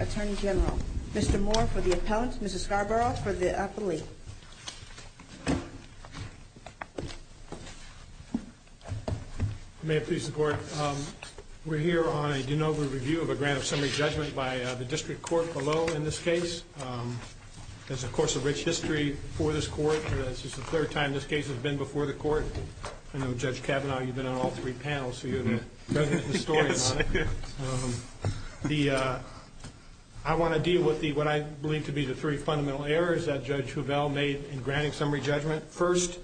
Attorney General, Mr. Moore for the appellant, Mrs. Scarborough for the appellee. May it please the court, we're here on a de novo review of a grant of summary judgment by the district court below in this case. It's, of course, a rich history for this court. It's the third time this has happened. This case has been before the court. I know, Judge Kavanaugh, you've been on all three panels. I want to deal with what I believe to be the three fundamental errors that Judge Hovell made in granting summary judgment. First,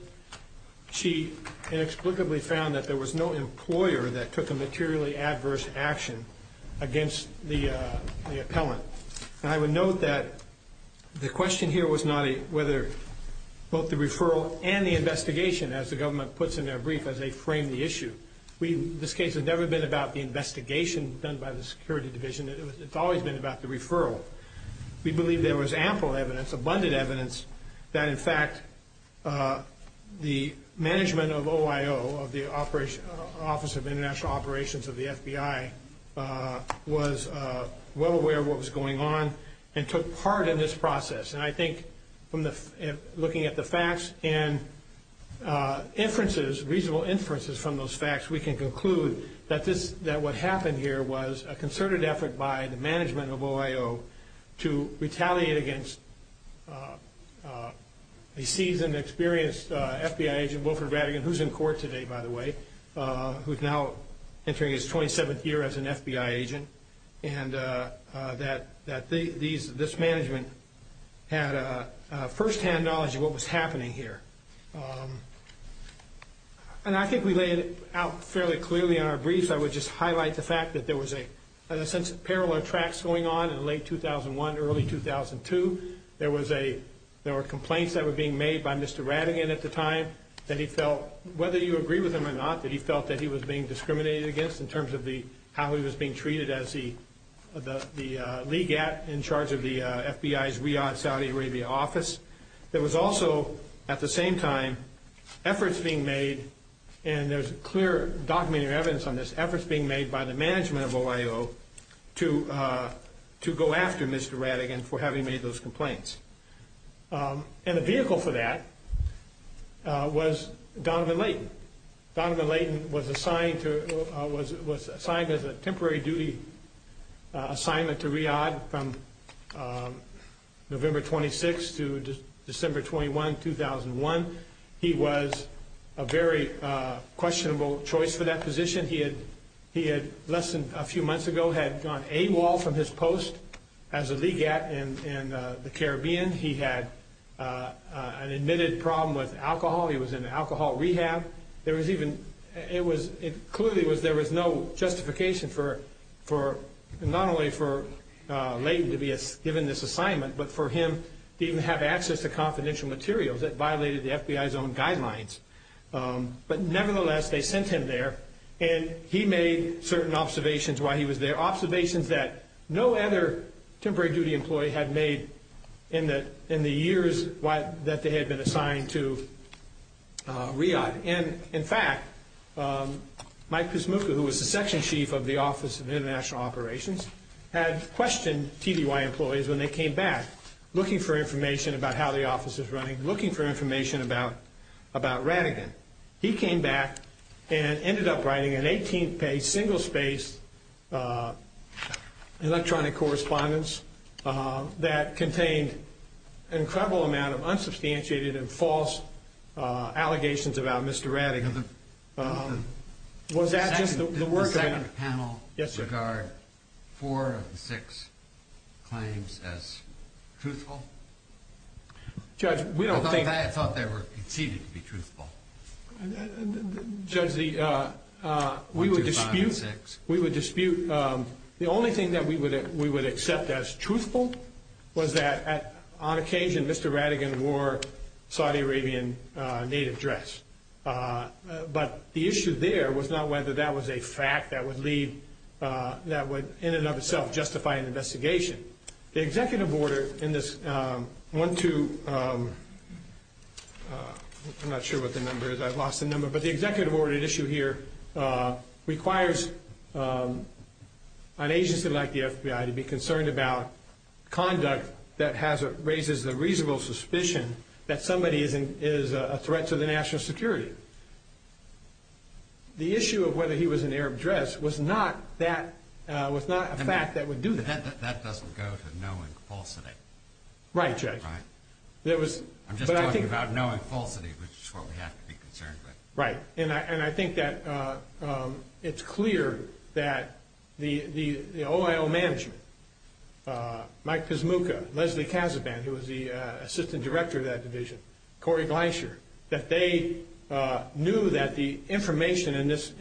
she inexplicably found that there was no employer that took a materially adverse action against the appellant. I would note that the question here was not whether both the referral and the investigation, as the government puts in their brief, as they frame the issue. This case has never been about the investigation done by the security division. It's always been about the referral. We believe there was ample evidence, abundant evidence, that in fact the management of OIO, the Office of International Operations of the FBI, was well aware of what was going on and took part in this process. I think looking at the facts and inferences, reasonable inferences from those facts, we can conclude that what happened here was a concerted effort by the management of OIO to retaliate against a seasoned, experienced FBI agent, Mr. Wilford Rattigan, who's in court today, by the way, who's now entering his 27th year as an FBI agent, and that this management had firsthand knowledge of what was happening here. And I think we laid it out fairly clearly in our briefs. I would just highlight the fact that there was a sense of parallel tracks going on in late 2001, early 2002. There were complaints that were being made by Mr. Rattigan at the time that he felt, whether you agree with him or not, that he felt that he was being discriminated against in terms of how he was being treated as the legate in charge of the FBI's Riyadh, Saudi Arabia office. There was also, at the same time, efforts being made, and there's clear, documented evidence on this, efforts being made by the management of OIO to go after Mr. Rattigan for having made those complaints. And the vehicle for that was Donovan Leighton. Donovan Leighton was assigned as a temporary duty assignment to Riyadh from November 26 to December 21, 2001. He was a very questionable choice for that position. He had, less than a few months ago, had gone AWOL from his post as a legate in the Caribbean. He had an admitted problem with alcohol. He was in alcohol rehab. There was even, it clearly was, there was no justification for, not only for Leighton to be given this assignment, but for him to even have access to confidential materials that violated the FBI's own guidelines. But nevertheless, they sent him there, and he made certain observations while he was there, observations that no other temporary duty employee had made in the years that they had been assigned to Riyadh. And in fact, Mike Pismuca, who was the section chief of the Office of International Operations, had questioned TDY employees when they came back, looking for information about how the office was running, looking for information about Rattigan. He came back and ended up writing an 18-page, single-spaced electronic correspondence that contained an incredible amount of unsubstantiated and false allegations about Mr. Rattigan. Was that just the work of... Did the second panel regard four of the six claims as truthful? Judge, we don't think... Judge, we would dispute... One, two, five, and six. We would dispute... The only thing that we would accept as truthful was that, on occasion, Mr. Rattigan wore Saudi Arabian native dress. But the issue there was not whether that was a fact that would lead... that would, in and of itself, justify an investigation. The executive order in this one, two... I'm not sure what the number is. I've lost the number. But the executive order at issue here requires an agency like the FBI to be concerned about conduct that raises the reasonable suspicion that somebody is a threat to the national security. The issue of whether he was in Arab dress was not a fact that would do that. But that doesn't go to knowing falsity. Right, Judge. Right. I'm just talking about knowing falsity, which is what we have to be concerned with. Right. And I think that it's clear that the OIO management, Mike Pizmuka, Leslie Kazaban, who was the assistant director of that division, Corey Gleisher, that they knew that the information in this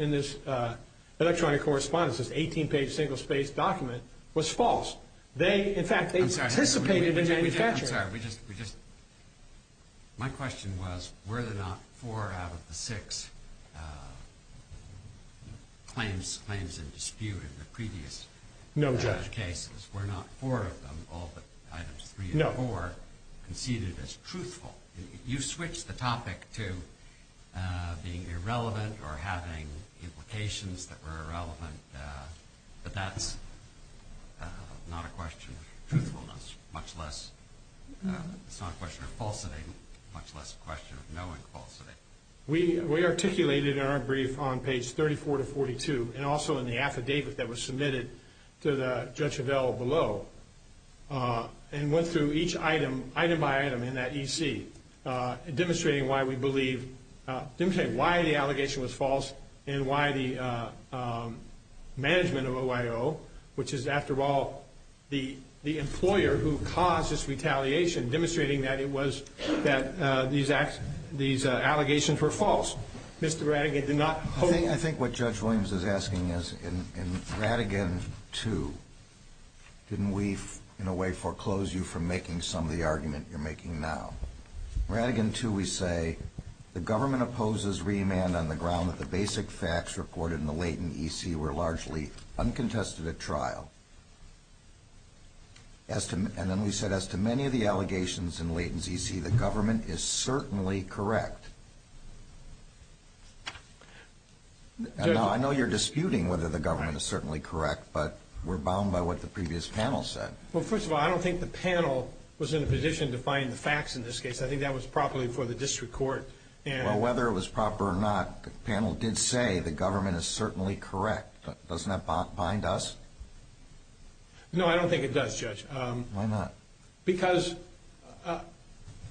electronic correspondence, this 18-page single-spaced document, was false. In fact, they participated in manufacturing it. I'm sorry. My question was, were there not four out of the six claims in dispute in the previous cases? No, Judge. Were not four of them, all but items three and four, conceded as truthful? You switched the topic to being irrelevant or having implications that were irrelevant, but that's not a question of truthfulness, much less it's not a question of falsity, much less a question of knowing falsity. We articulated in our brief on page 34 to 42, and also in the affidavit that was submitted to Judge Avell below, and went through each item, item by item in that EC, demonstrating why the allegation was false and why the management of OIO, which is, after all, the employer who caused this retaliation, demonstrating that these allegations were false. I think what Judge Williams is asking is, in Radigan 2, didn't we, in a way, foreclose you from making some of the argument you're making now? In Radigan 2, we say, the government opposes remand on the ground that the basic facts reported in the latent EC were largely uncontested at trial. And then we said, as to many of the allegations in latent EC, the government is certainly correct. Now, I know you're disputing whether the government is certainly correct, but we're bound by what the previous panel said. Well, first of all, I don't think the panel was in a position to find the facts in this case. I think that was properly for the district court. Well, whether it was proper or not, the panel did say the government is certainly correct. Doesn't that bind us? No, I don't think it does, Judge. Why not? Because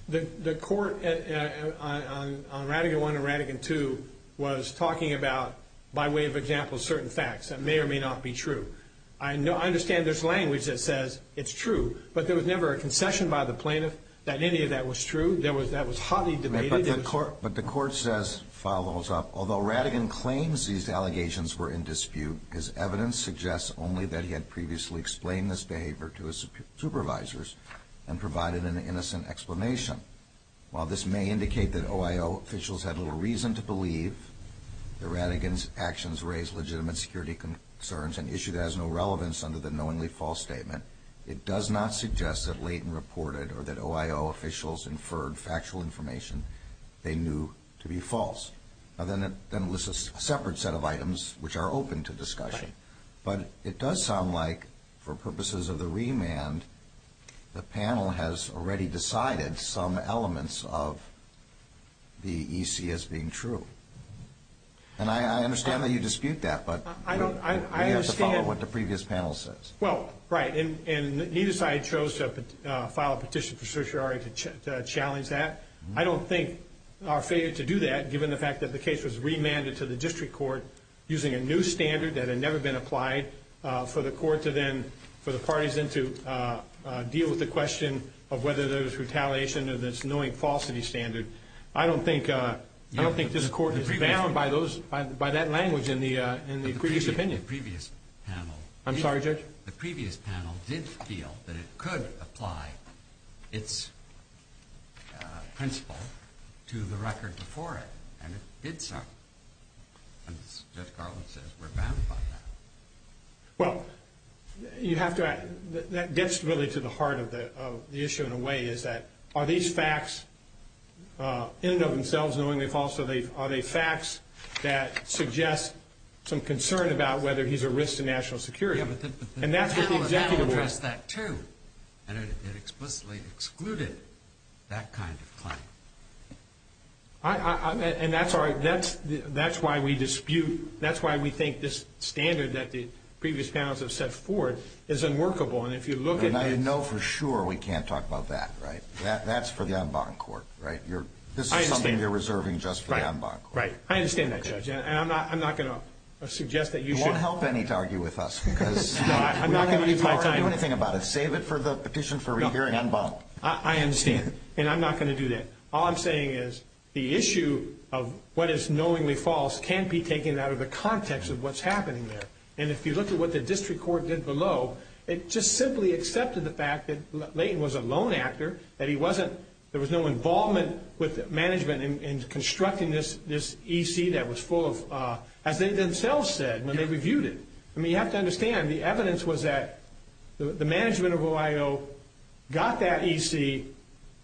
the court, on Radigan 1 and Radigan 2, was talking about, by way of example, certain facts that may or may not be true. I understand there's language that says it's true, but there was never a concession by the plaintiff that any of that was true. That was hotly debated. But the court says, follows up, although Radigan claims these allegations were in dispute, his evidence suggests only that he had previously explained this behavior to his supervisors and provided an innocent explanation. While this may indicate that OIO officials had little reason to believe that Radigan's actions raised legitimate security concerns and issued as no relevance under the knowingly false statement, it does not suggest that Leighton reported or that OIO officials inferred factual information they knew to be false. Then it lists a separate set of items which are open to discussion. But it does sound like, for purposes of the remand, the panel has already decided some elements of the EC as being true. And I understand that you dispute that, but we have to follow what the previous panel says. Well, right. And neither side chose to file a petition for certiorari to challenge that. I don't think our failure to do that, given the fact that the case was remanded to the district court using a new standard that had never been applied for the court to then, for the parties then to deal with the question of whether there was retaliation or this knowing falsity standard, I don't think this court is bound by that language in the previous opinion. I'm sorry, Judge? The previous panel did feel that it could apply its principle to the record before it, and it did so. And Judge Garland says we're bound by that. Well, you have to add, that gets really to the heart of the issue in a way, is that are these facts in and of themselves knowingly false, or are they facts that suggest some concern about whether he's a risk to national security? Yeah, but the panel addressed that too, and it explicitly excluded that kind of claim. And that's why we dispute, that's why we think this standard that the previous panels have set forward is unworkable. And if you look at this. And I know for sure we can't talk about that, right? That's for the en banc court, right? This is something they're reserving just for the en banc court. Right, I understand that, Judge, and I'm not going to suggest that you should. You won't help any to argue with us, because we're not going to have any power to do anything about it. Save it for the petition for rehearing en banc. I understand, and I'm not going to do that. All I'm saying is the issue of what is knowingly false can't be taken out of the context of what's happening there. And if you look at what the district court did below, it just simply accepted the fact that Layton was a lone actor, that he wasn't, there was no involvement with management in constructing this EC that was full of, as they themselves said when they reviewed it. I mean, you have to understand, the evidence was that the management of OIO got that EC,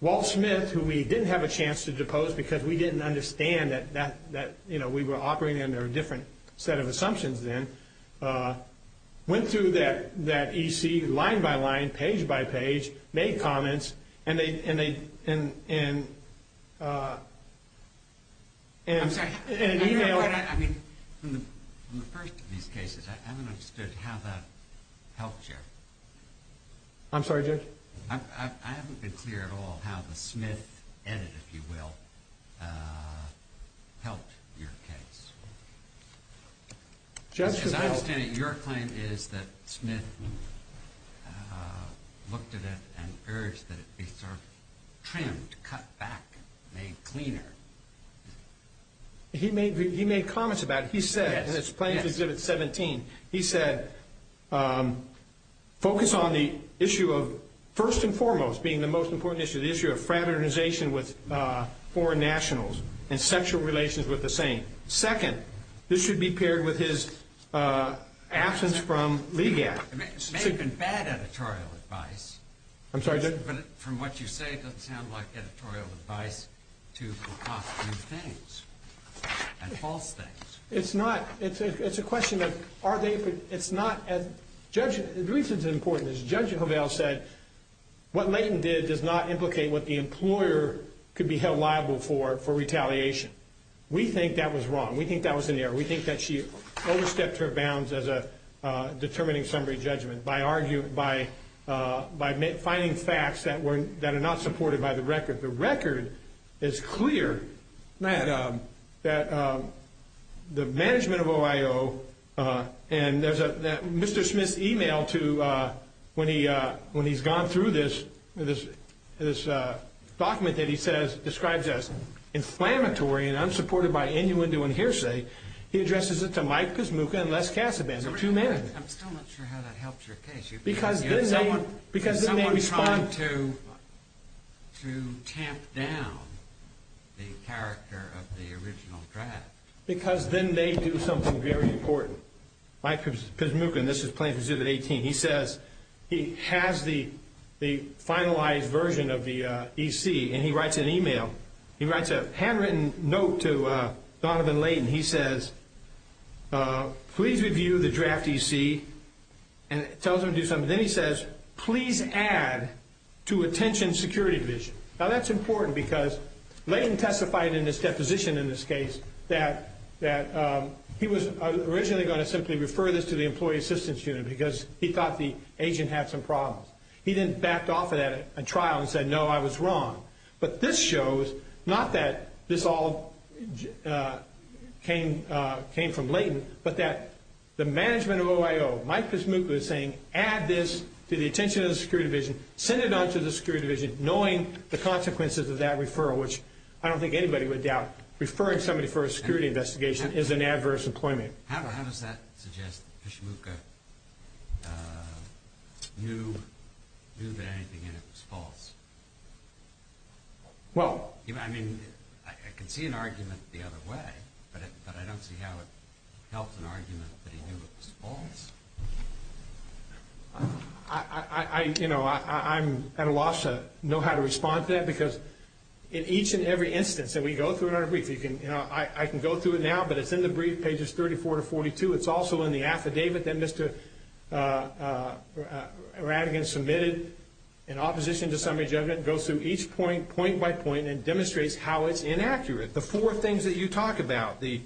Walt Smith, who we didn't have a chance to depose because we didn't understand that we were operating under a different set of assumptions then, went through that EC line-by-line, page-by-page, made comments, and they... I'm sorry, I mean, from the first of these cases, I haven't understood how that helped you. I'm sorry, Judge? I haven't been clear at all how the Smith edit, if you will, helped your case. As I understand it, your claim is that Smith looked at it and urged that it be sort of trimmed, cut back, made cleaner. He made comments about it. He said, and it's Plaintiff's Exhibit 17, he said, focus on the issue of, first and foremost, being the most important issue, the issue of fraternization with foreign nationals and sexual relations with the same. Second, this should be paired with his absence from LEGAC. It may have been bad editorial advice. I'm sorry, Judge? But from what you say, it doesn't sound like editorial advice to concoct new things and false things. It's not. It's a question of are they... It's not as... The reason it's important is Judge Hovell said what Layton did does not implicate what the employer could be held liable for for retaliation. We think that was wrong. We think that was an error. We think that she overstepped her bounds as a determining summary judgment by finding facts that are not supported by the record. The record is clear that the management of OIO, and there's a Mr. Smith's email to when he's gone through this, this document that he says describes as inflammatory and unsupported by any window in hearsay. He addresses it to Mike Pizmuka and Les Casaban, the two managers. I'm still not sure how that helps your case. Because then they respond... Someone tried to tamp down the character of the original draft. Because then they do something very important. Mike Pizmuka, and this is Plaintiff's Zubit 18. He says he has the finalized version of the EC, and he writes an email. He writes a handwritten note to Donovan Layton. He says, please review the draft EC and tells them to do something. Then he says, please add to attention security division. Now that's important because Layton testified in his deposition in this case that he was originally going to simply refer this to the employee assistance unit because he thought the agent had some problems. He then backed off of that trial and said, no, I was wrong. But this shows not that this all came from Layton, but that the management of OIO, Mike Pizmuka is saying, add this to the attention of the security division, send it on to the security division, knowing the consequences of that referral, which I don't think anybody would doubt. Referring somebody for a security investigation is an adverse employment. How does that suggest that Pizmuka knew that anything in it was false? I mean, I can see an argument the other way, but I don't see how it helps an argument that he knew it was false. I'm at a loss to know how to respond to that because in each and every instance that we go through in our brief, I can go through it now, but it's in the brief, pages 34 to 42. It's also in the affidavit that Mr. Radigan submitted in opposition to summary judgment. It goes through each point, point by point, and demonstrates how it's inaccurate. The four things that you talk about, the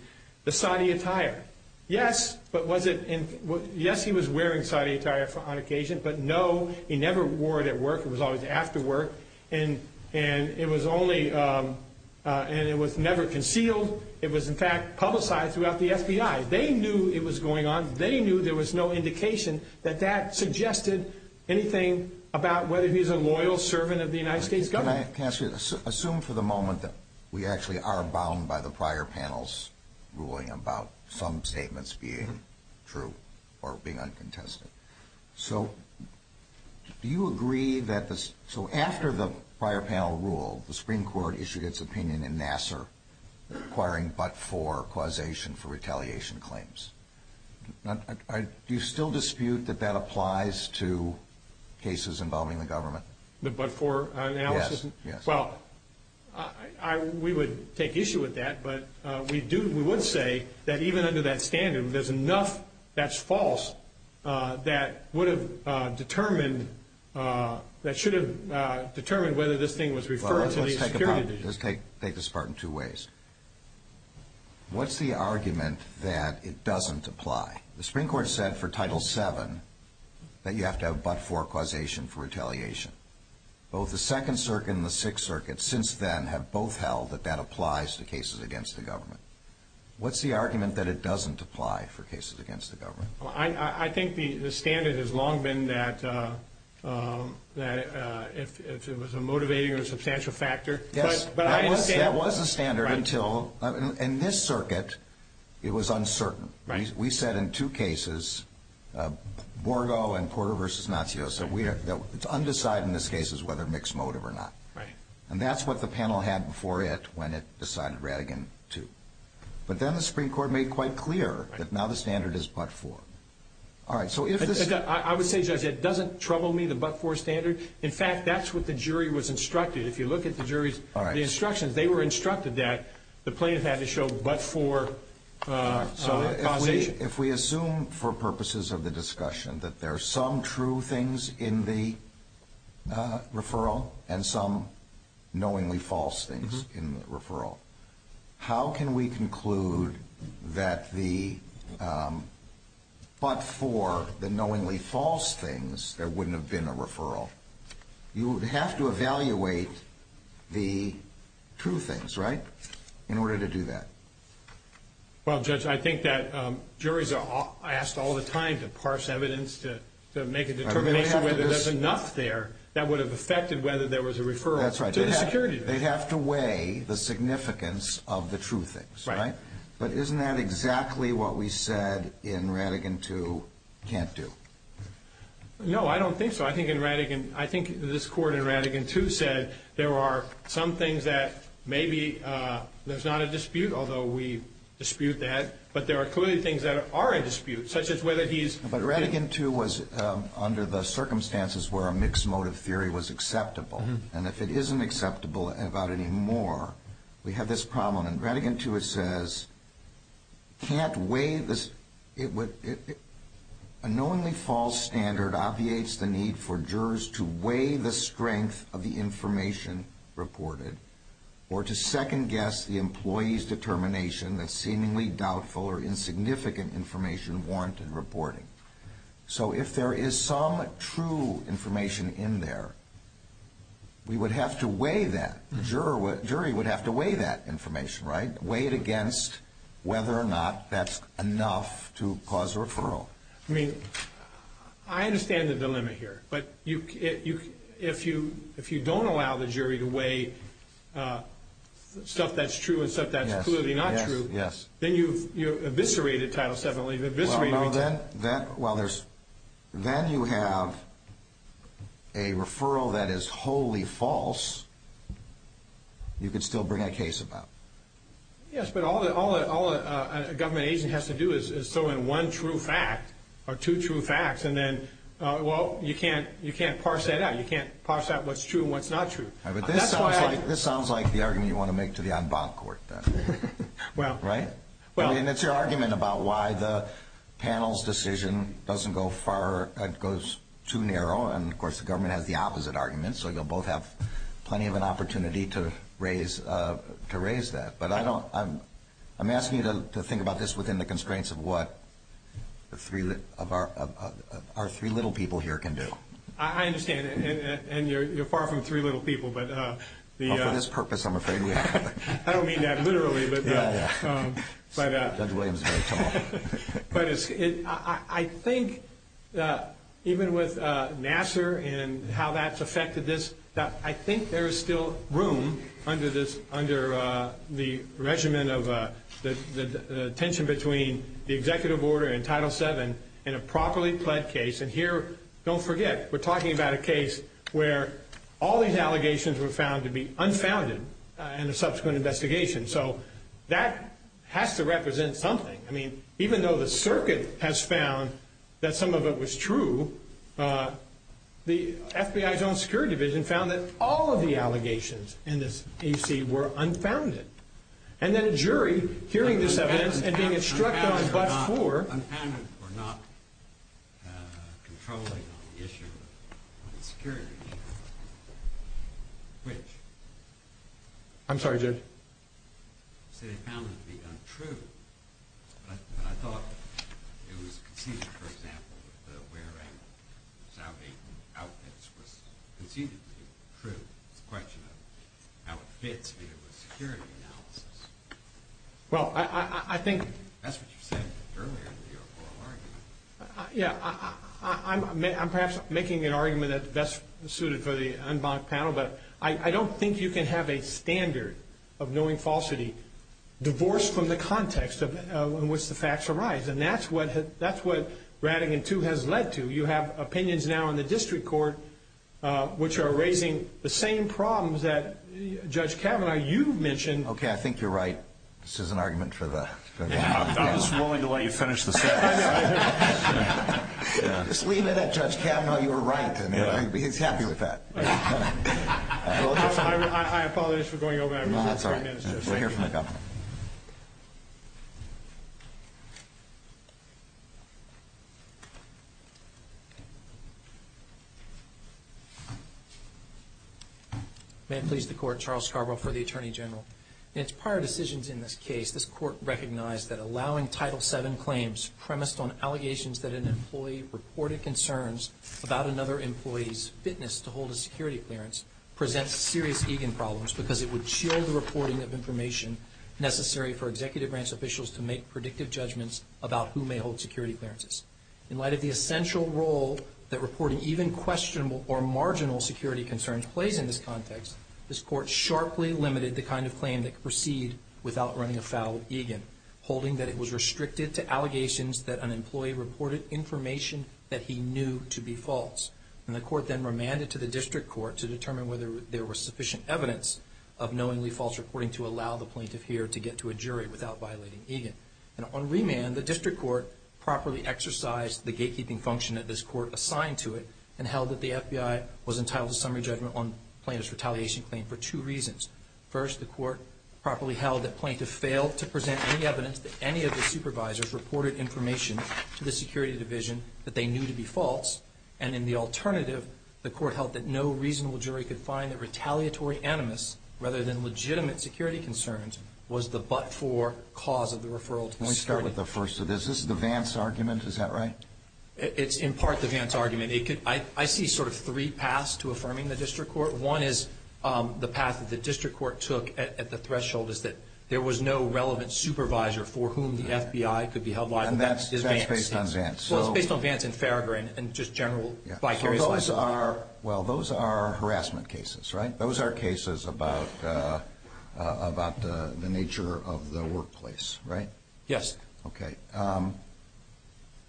soddy attire. Yes, he was wearing soddy attire on occasion, but no, he never wore it at work. It was always after work, and it was never concealed. It was, in fact, publicized throughout the FBI. They knew it was going on. They knew there was no indication that that suggested anything about whether he's a loyal servant of the United States government. Can I ask you this? Assume for the moment that we actually are bound by the prior panel's ruling about some statements being true or being uncontested. So after the prior panel ruled, the Supreme Court issued its opinion in Nassar requiring but-for causation for retaliation claims. Do you still dispute that that applies to cases involving the government? The but-for analysis? Yes. Well, we would take issue with that, but we would say that even under that standard, there's enough that's false that would have determined, that should have determined whether this thing was referred to the security division. Let's take this apart in two ways. What's the argument that it doesn't apply? The Supreme Court said for Title VII that you have to have but-for causation for retaliation. Both the Second Circuit and the Sixth Circuit since then have both held that that applies to cases against the government. What's the argument that it doesn't apply for cases against the government? I think the standard has long been that if it was a motivating or substantial factor. Yes. But I understand. That was a standard until, in this circuit, it was uncertain. Right. We said in two cases, Borgo and Porter v. Natsios, that it's undecided in this case whether it's mixed motive or not. Right. And that's what the panel had before it when it decided Rattigan too. But then the Supreme Court made quite clear that now the standard is but-for. All right. I would say, Judge, it doesn't trouble me, the but-for standard. In fact, that's what the jury was instructed. If you look at the jury's instructions, they were instructed that the plaintiff had to show but-for causation. If we assume for purposes of the discussion that there are some true things in the referral and some knowingly false things in the referral, how can we conclude that the but-for, the knowingly false things, there wouldn't have been a referral? You would have to evaluate the true things, right, in order to do that. Well, Judge, I think that juries are asked all the time to parse evidence, to make a determination whether there's enough there that would have affected whether there was a referral. That's right. To the security. They'd have to weigh the significance of the true things. Right. But isn't that exactly what we said in Rattigan too can't do? No, I don't think so. I think in Rattigan, I think this Court in Rattigan too said there are some things that maybe there's not a dispute, although we dispute that, but there are clearly things that are a dispute, such as whether he's- But Rattigan too was under the circumstances where a mixed motive theory was acceptable, and if it isn't acceptable about any more, we have this problem. In Rattigan too it says, can't weigh this- a knowingly false standard obviates the need for jurors to weigh the strength of the information reported or to second guess the employee's determination that seemingly doubtful or insignificant information warranted reporting. So if there is some true information in there, we would have to weigh that. The jury would have to weigh that information, right? Weigh it against whether or not that's enough to cause a referral. I mean, I understand the dilemma here, but if you don't allow the jury to weigh stuff that's true and stuff that's clearly not true, then you've eviscerated Title VII. Well, then you have a referral that is wholly false you can still bring a case about. Yes, but all a government agent has to do is throw in one true fact or two true facts, and then, well, you can't parse that out. You can't parse out what's true and what's not true. But this sounds like the argument you want to make to the en banc court then, right? I mean, it's your argument about why the panel's decision doesn't go far, goes too narrow, and, of course, the government has the opposite argument, so you'll both have plenty of an opportunity to raise that. But I'm asking you to think about this within the constraints of what our three little people here can do. I understand, and you're far from three little people. Well, for this purpose, I'm afraid we have to. I don't mean that literally. Judge Williams is very tall. But I think even with Nassar and how that's affected this, I think there is still room under the regimen of the tension between the executive order and Title VII in a properly pled case, and here, don't forget, we're talking about a case where all these allegations were found to be unfounded in a subsequent investigation. So that has to represent something. I mean, even though the circuit has found that some of it was true, the FBI's own security division found that all of the allegations in this AC were unfounded. And then a jury, hearing this evidence and being instructed on but four. Unfounded or not controlling on the issue of security. Which? I'm sorry, Judge. So they found it to be untrue, but I thought it was conceded, for example, that wearing Saudi outfits was conceded to be true. It's a question of how it fits with the security analysis. Well, I think. That's what you said earlier in the oral argument. Yeah, I'm perhaps making an argument that that's suited for the unbunked panel, but I don't think you can have a standard of knowing falsity divorced from the context in which the facts arise. And that's what Rattigan II has led to. You have opinions now in the district court which are raising the same problems that Judge Kavanaugh, you mentioned. Okay, I think you're right. This is an argument for the. I'm just willing to let you finish the sentence. Just leave it at Judge Kavanaugh. You were right. He's happy with that. I apologize for going over that. We'll hear from the governor. May it please the Court. Charles Scarborough for the Attorney General. In its prior decisions in this case, this Court recognized that allowing Title VII claims premised on allegations that an employee reported concerns about another employee's fitness to hold a security clearance presents serious egan problems because it would shield the reporting of information necessary for executive branch officials to make predictive judgments about who may hold security clearances. In light of the essential role that reporting even questionable or marginal security concerns plays in this context, this Court sharply limited the kind of claim that could proceed without running afoul of egan, holding that it was restricted to allegations that an employee reported information that he knew to be false. And the Court then remanded to the district court to determine whether there was sufficient evidence of knowingly false reporting to allow the plaintiff here to get to a jury without violating egan. And on remand, the district court properly exercised the gatekeeping function that this Court assigned to it and held that the FBI was entitled to summary judgment on plaintiff's retaliation claim for two reasons. First, the Court properly held that plaintiff failed to present any evidence that any of the supervisors reported information to the security division that they knew to be false. And in the alternative, the Court held that no reasonable jury could find that retaliatory animus, rather than legitimate security concerns, was the but-for cause of the referral to the security division. Let me start with the first of this. This is the Vance argument. Is that right? It's in part the Vance argument. I see sort of three paths to affirming the district court. One is the path that the district court took at the threshold is that there was no relevant supervisor for whom the FBI could be held liable. And that's based on Vance. Well, it's based on Vance and Farragher and just general vicarious liability. Well, those are harassment cases, right? Those are cases about the nature of the workplace, right? Yes. Okay.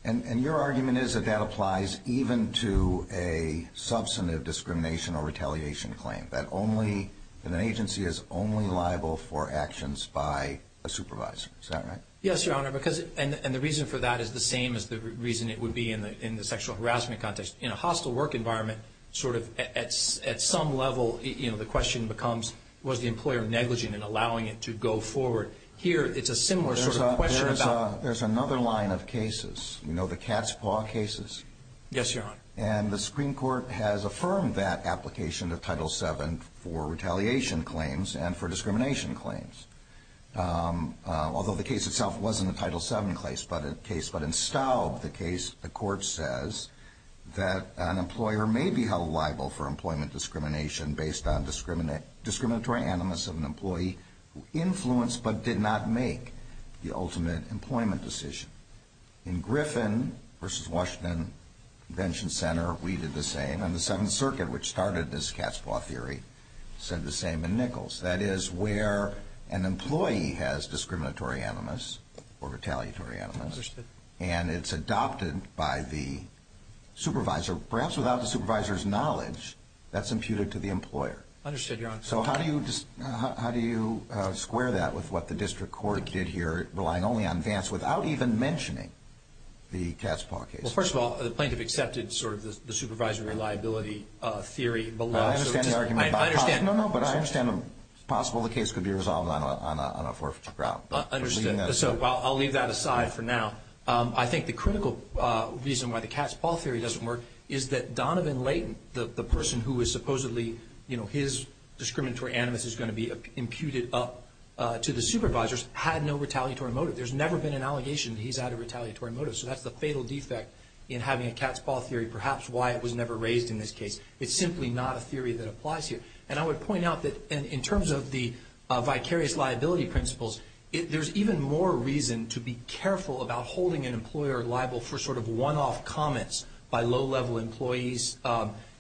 And your argument is that that applies even to a substantive discrimination or retaliation claim, that an agency is only liable for actions by a supervisor. Is that right? Yes, Your Honor. And the reason for that is the same as the reason it would be in the sexual harassment context. In a hostile work environment, sort of at some level, you know, the question becomes was the employer negligent in allowing it to go forward. Here, it's a similar sort of question. There's another line of cases. You know the cat's paw cases? Yes, Your Honor. And the Supreme Court has affirmed that application of Title VII for retaliation claims and for discrimination claims. Although the case itself wasn't a Title VII case, but in Staub, the case, the court says, that an employer may be held liable for employment discrimination based on discriminatory animus of an employee who influenced but did not make the ultimate employment decision. In Griffin v. Washington Convention Center, we did the same. And the Seventh Circuit, which started this cat's paw theory, said the same in Nichols. That is where an employee has discriminatory animus or retaliatory animus. Understood. And it's adopted by the supervisor, perhaps without the supervisor's knowledge, that's imputed to the employer. Understood, Your Honor. So how do you square that with what the district court did here, relying only on Vance, without even mentioning the cat's paw case? Well, first of all, the plaintiff accepted sort of the supervisory liability theory below. I understand the argument. I understand. No, no, but I understand it's possible the case could be resolved on a forfeiture grout. Understood. So I'll leave that aside for now. I think the critical reason why the cat's paw theory doesn't work is that Donovan Layton, the person who is supposedly his discriminatory animus is going to be imputed up to the supervisors, had no retaliatory motive. There's never been an allegation that he's had a retaliatory motive. So that's the fatal defect in having a cat's paw theory, perhaps why it was never raised in this case. It's simply not a theory that applies here. And I would point out that in terms of the vicarious liability principles, there's even more reason to be careful about holding an employer liable for sort of one-off comments by low-level employees,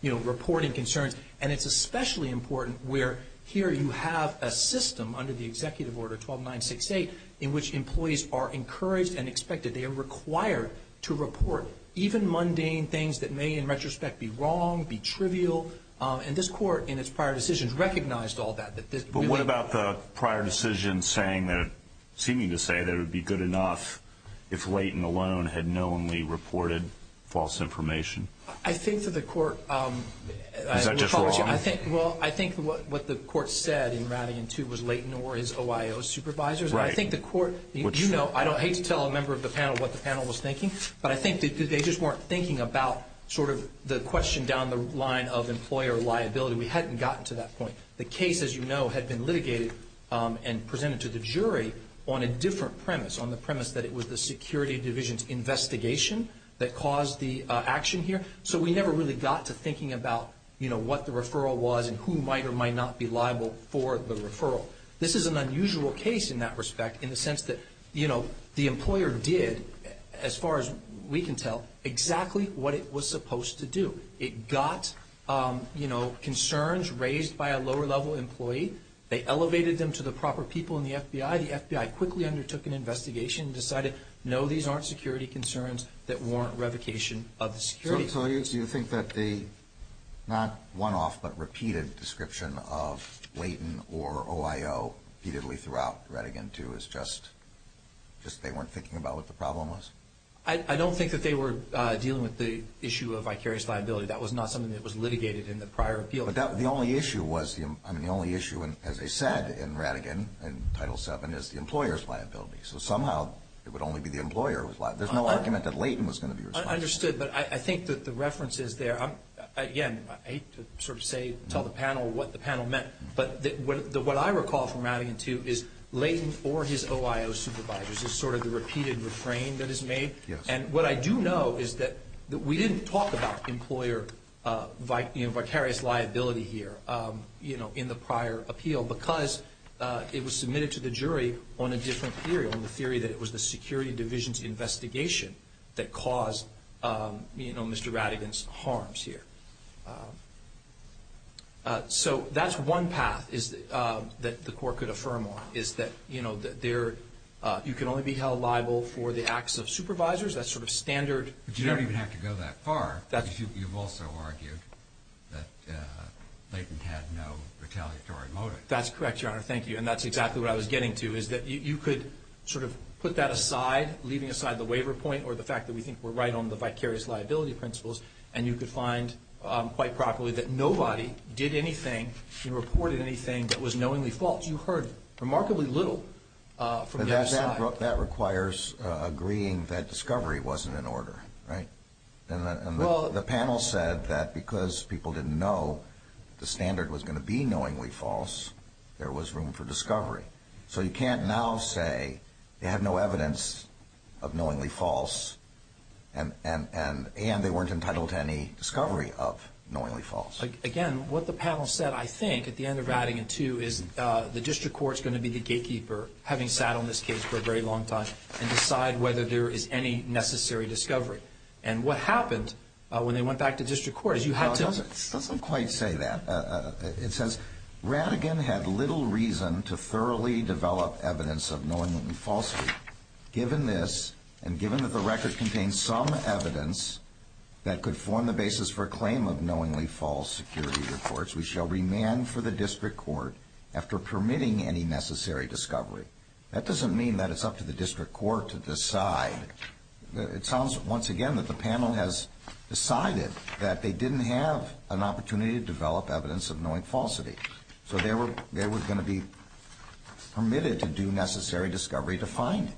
you know, reporting concerns. And it's especially important where here you have a system under the Executive Order 12968 in which employees are encouraged and expected. They are required to report even mundane things that may, in retrospect, be wrong, be trivial. And this Court, in its prior decisions, recognized all that. But what about the prior decision saying that or seeming to say that it would be good enough if Leighton alone had knowingly reported false information? I think that the Court – Is that just wrong? Well, I think what the Court said in Rattigan, too, was Leighton or his OIO supervisors. Right. I think the Court – you know, I don't hate to tell a member of the panel what the panel was thinking, but I think they just weren't thinking about sort of the question down the line of employer liability. We hadn't gotten to that point. The case, as you know, had been litigated and presented to the jury on a different premise, on the premise that it was the Security Division's investigation that caused the action here. So we never really got to thinking about, you know, what the referral was and who might or might not be liable for the referral. This is an unusual case in that respect in the sense that, you know, the employer did, as far as we can tell, exactly what it was supposed to do. It got, you know, concerns raised by a lower-level employee. They elevated them to the proper people in the FBI. The FBI quickly undertook an investigation and decided, no, these aren't security concerns that warrant revocation of the Security Division. So you think that the not one-off but repeated description of Leighton or OIO repeatedly throughout Rattigan, too, is just they weren't thinking about what the problem was? I don't think that they were dealing with the issue of vicarious liability. That was not something that was litigated in the prior appeal. But the only issue was, I mean, the only issue, as I said, in Rattigan, in Title VII, is the employer's liability. So somehow it would only be the employer who was liable. There's no argument that Leighton was going to be responsible. I understood, but I think that the reference is there. Again, I hate to sort of say, tell the panel what the panel meant, but what I recall from Rattigan, too, is Leighton or his OIO supervisors is sort of the repeated refrain that is made. And what I do know is that we didn't talk about employer vicarious liability here in the prior appeal because it was submitted to the jury on a different theory, on the theory that it was the Security Division's investigation that caused Mr. Rattigan's harms here. So that's one path that the Court could affirm on, is that you can only be held liable for the acts of supervisors. That's sort of standard. But you don't even have to go that far. You've also argued that Leighton had no retaliatory motive. That's correct, Your Honor. Thank you. And that's exactly what I was getting to, is that you could sort of put that aside, leaving aside the waiver point or the fact that we think we're right on the vicarious liability principles, and you could find quite properly that nobody did anything and reported anything that was knowingly false. You heard remarkably little from the other side. But that requires agreeing that discovery wasn't in order, right? And the panel said that because people didn't know the standard was going to be knowingly false, there was room for discovery. So you can't now say they have no evidence of knowingly false and they weren't entitled to any discovery of knowingly false. Again, what the panel said, I think, at the end of Rattigan, too, is the district court is going to be the gatekeeper, having sat on this case for a very long time, and decide whether there is any necessary discovery. And what happened when they went back to district court is you had to. It doesn't quite say that. It says Rattigan had little reason to thoroughly develop evidence of knowingly falsely. Given this, and given that the record contains some evidence that could form the basis for a claim of knowingly false security reports, we shall remand for the district court after permitting any necessary discovery. That doesn't mean that it's up to the district court to decide. It sounds, once again, that the panel has decided that they didn't have an opportunity to develop evidence of knowing falsity. So they were going to be permitted to do necessary discovery to find it.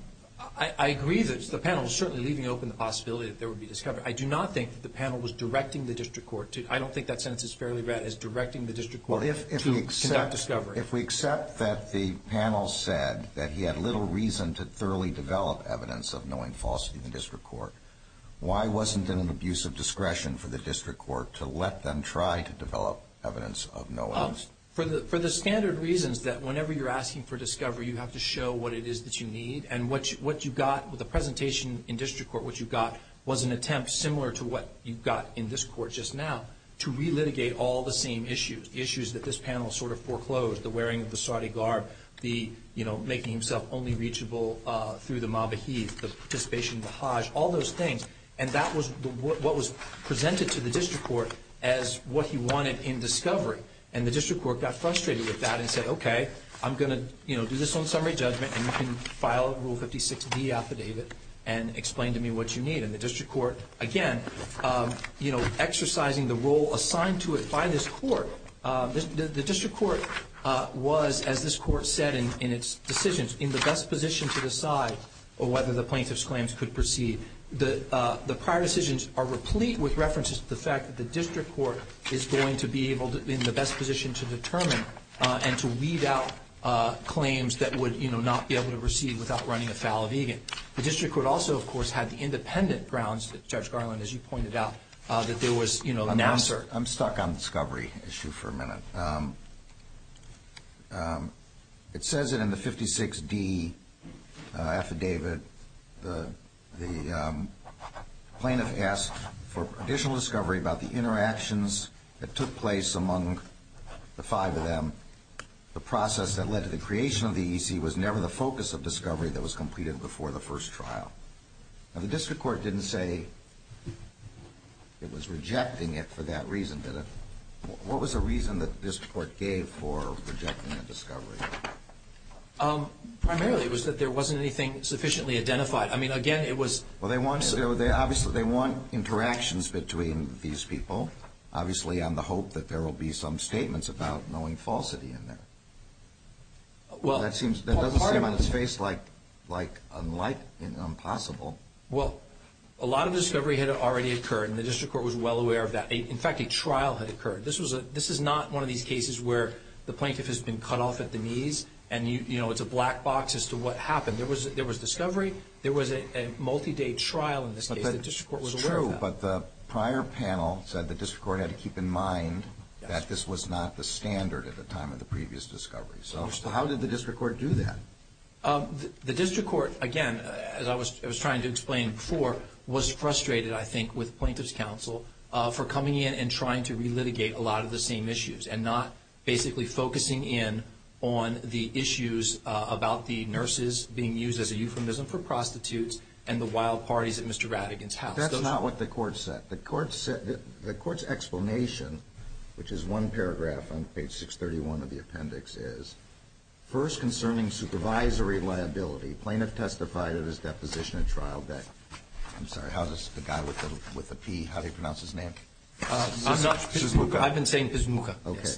I agree that the panel is certainly leaving open the possibility that there would be discovery. I do not think that the panel was directing the district court. I don't think that sentence is fairly read as directing the district court to conduct discovery. If we accept that the panel said that he had little reason to thoroughly develop evidence of knowing falsity in the district court, why wasn't it an abuse of discretion for the district court to let them try to develop evidence of knowing? For the standard reasons that whenever you're asking for discovery, you have to show what it is that you need. And what you got with the presentation in district court, what you got was an attempt similar to what you got in this court just now to relitigate all the same issues, issues that this panel sort of foreclosed, the wearing of the Saudi garb, the, you know, making himself only reachable through the Mabahid, the participation of the Hajj, all those things. And that was what was presented to the district court as what he wanted in discovery. And the district court got frustrated with that and said, okay, I'm going to, you know, do this on summary judgment and you can file Rule 56D affidavit and explain to me what you need. And the district court, again, you know, exercising the role assigned to it by this court, the district court was, as this court said in its decisions, in the best position to decide whether the plaintiff's claims could proceed. The prior decisions are replete with references to the fact that the district court is going to be able to, in the best position to determine and to weed out claims that would, you know, not be able to proceed without running afoul of Egan. The district court also, of course, had the independent grounds that Judge Garland, as you pointed out, that there was, you know, an answer. I'm stuck on the discovery issue for a minute. It says that in the 56D affidavit the plaintiff asked for additional discovery about the interactions that took place among the five of them. The process that led to the creation of the EEC was never the focus of discovery that was completed before the first trial. Now, the district court didn't say it was rejecting it for that reason, did it? What was the reason that the district court gave for rejecting the discovery? Primarily, it was that there wasn't anything sufficiently identified. I mean, again, it was – Well, they want – obviously, they want interactions between these people, obviously on the hope that there will be some statements about knowing falsity in there. Well, part of it – That doesn't seem on its face like unlikely and impossible. Well, a lot of discovery had already occurred, and the district court was well aware of that. In fact, a trial had occurred. This is not one of these cases where the plaintiff has been cut off at the knees and, you know, it's a black box as to what happened. There was discovery. There was a multi-day trial in this case. The district court was aware of that. It's true, but the prior panel said the district court had to keep in mind that this was not the standard at the time of the previous discovery. So how did the district court do that? The district court, again, as I was trying to explain before, was frustrated, I think, with plaintiff's counsel for coming in and trying to relitigate a lot of the same issues and not basically focusing in on the issues about the nurses being used as a euphemism for prostitutes and the wild parties at Mr. Rattigan's house. That's not what the court said. The court's explanation, which is one paragraph on page 631 of the appendix, is, first concerning supervisory liability, plaintiff testified at his deposition at trial that, I'm sorry, how does the guy with the P, how do you pronounce his name? I'm not. Pizmuka. I've been saying Pizmuka. Okay.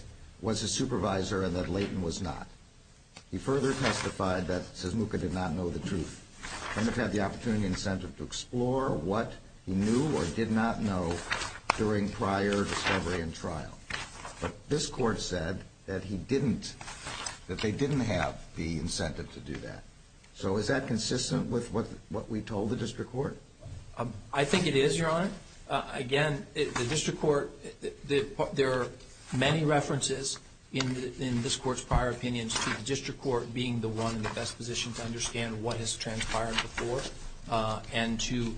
Was a supervisor and that Layton was not. He further testified that Pizmuka did not know the truth. Plaintiff had the opportunity and incentive to explore what he knew or did not know during prior discovery and trial. But this court said that he didn't, that they didn't have the incentive to do that. So is that consistent with what we told the district court? I think it is, Your Honor. Again, the district court, there are many references in this court's prior opinions to the district court being the one in the best position to understand what has transpired before and to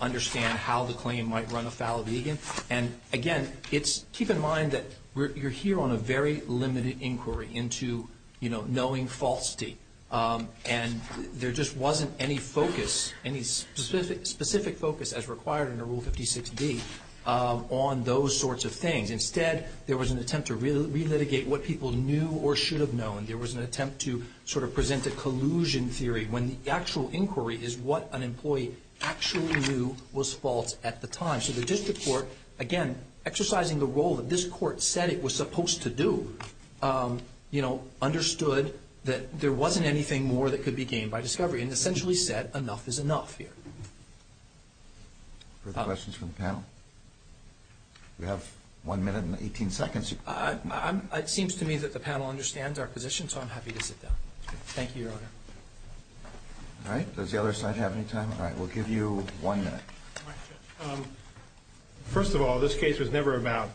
understand how the claim might run afoul of Egan. And, again, keep in mind that you're here on a very limited inquiry into, you know, knowing falsity. And there just wasn't any focus, any specific focus as required under Rule 56D on those sorts of things. Instead, there was an attempt to relitigate what people knew or should have known. There was an attempt to sort of present a collusion theory when the actual inquiry is what an employee actually knew was false at the time. So the district court, again, exercising the role that this court said it was supposed to do, you know, understood that there wasn't anything more that could be gained by discovery and essentially said enough is enough here. Further questions from the panel? We have one minute and 18 seconds. It seems to me that the panel understands our position, so I'm happy to sit down. Thank you, Your Honor. All right, does the other side have any time? All right, we'll give you one minute. First of all, this case was never about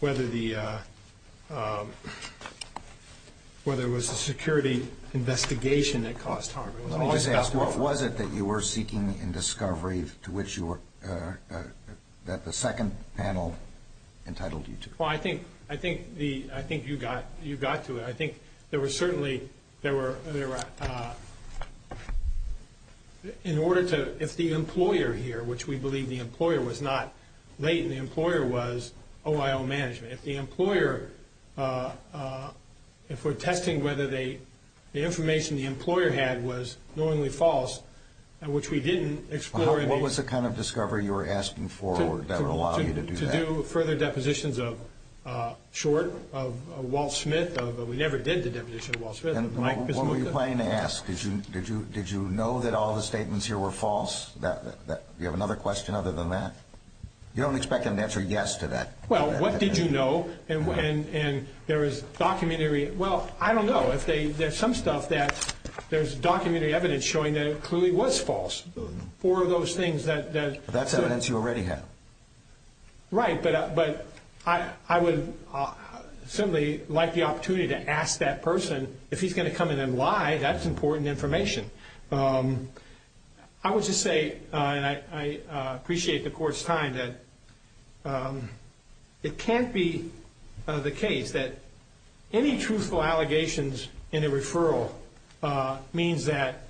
whether there was a security investigation that caused harm. Let me just ask, what was it that you were seeking in discovery to which the second panel entitled you to? Well, I think you got to it. I think there were certainly, there were, in order to, if the employer here, which we believe the employer was not latent, the employer was OIO management. If the employer, if we're testing whether the information the employer had was knowingly false, which we didn't explore in a... What was the kind of discovery you were asking for that would allow you to do that? To do further depositions of Short, of Walt Smith. We never did the deposition of Walt Smith. What were you planning to ask? Did you know that all the statements here were false? Do you have another question other than that? You don't expect them to answer yes to that. Well, what did you know? And there is documentary, well, I don't know. There's some stuff that there's documentary evidence showing that it clearly was false. Four of those things that... That's evidence you already have. Right, but I would certainly like the opportunity to ask that person, if he's going to come in and lie, that's important information. I would just say, and I appreciate the Court's time, that it can't be the case that any truthful allegations in a referral means that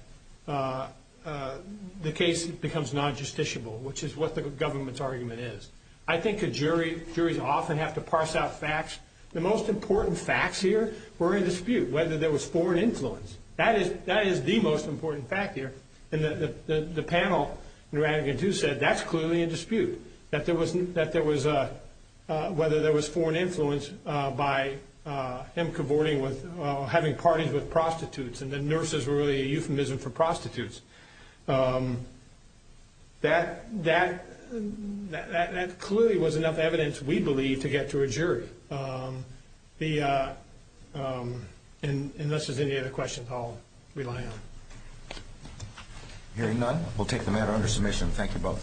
the case becomes non-justiciable, which is what the government's argument is. I think a jury, juries often have to parse out facts. The most important facts here were in dispute, whether there was foreign influence. That is the most important fact here. And the panel in Rattigan, too, said that's clearly in dispute, whether there was foreign influence by him having parties with prostitutes and the nurses were really a euphemism for prostitutes. That clearly was enough evidence, we believe, to get to a jury. Unless there's any other questions, I'll rely on it. Hearing none, we'll take the matter under submission. Thank you both.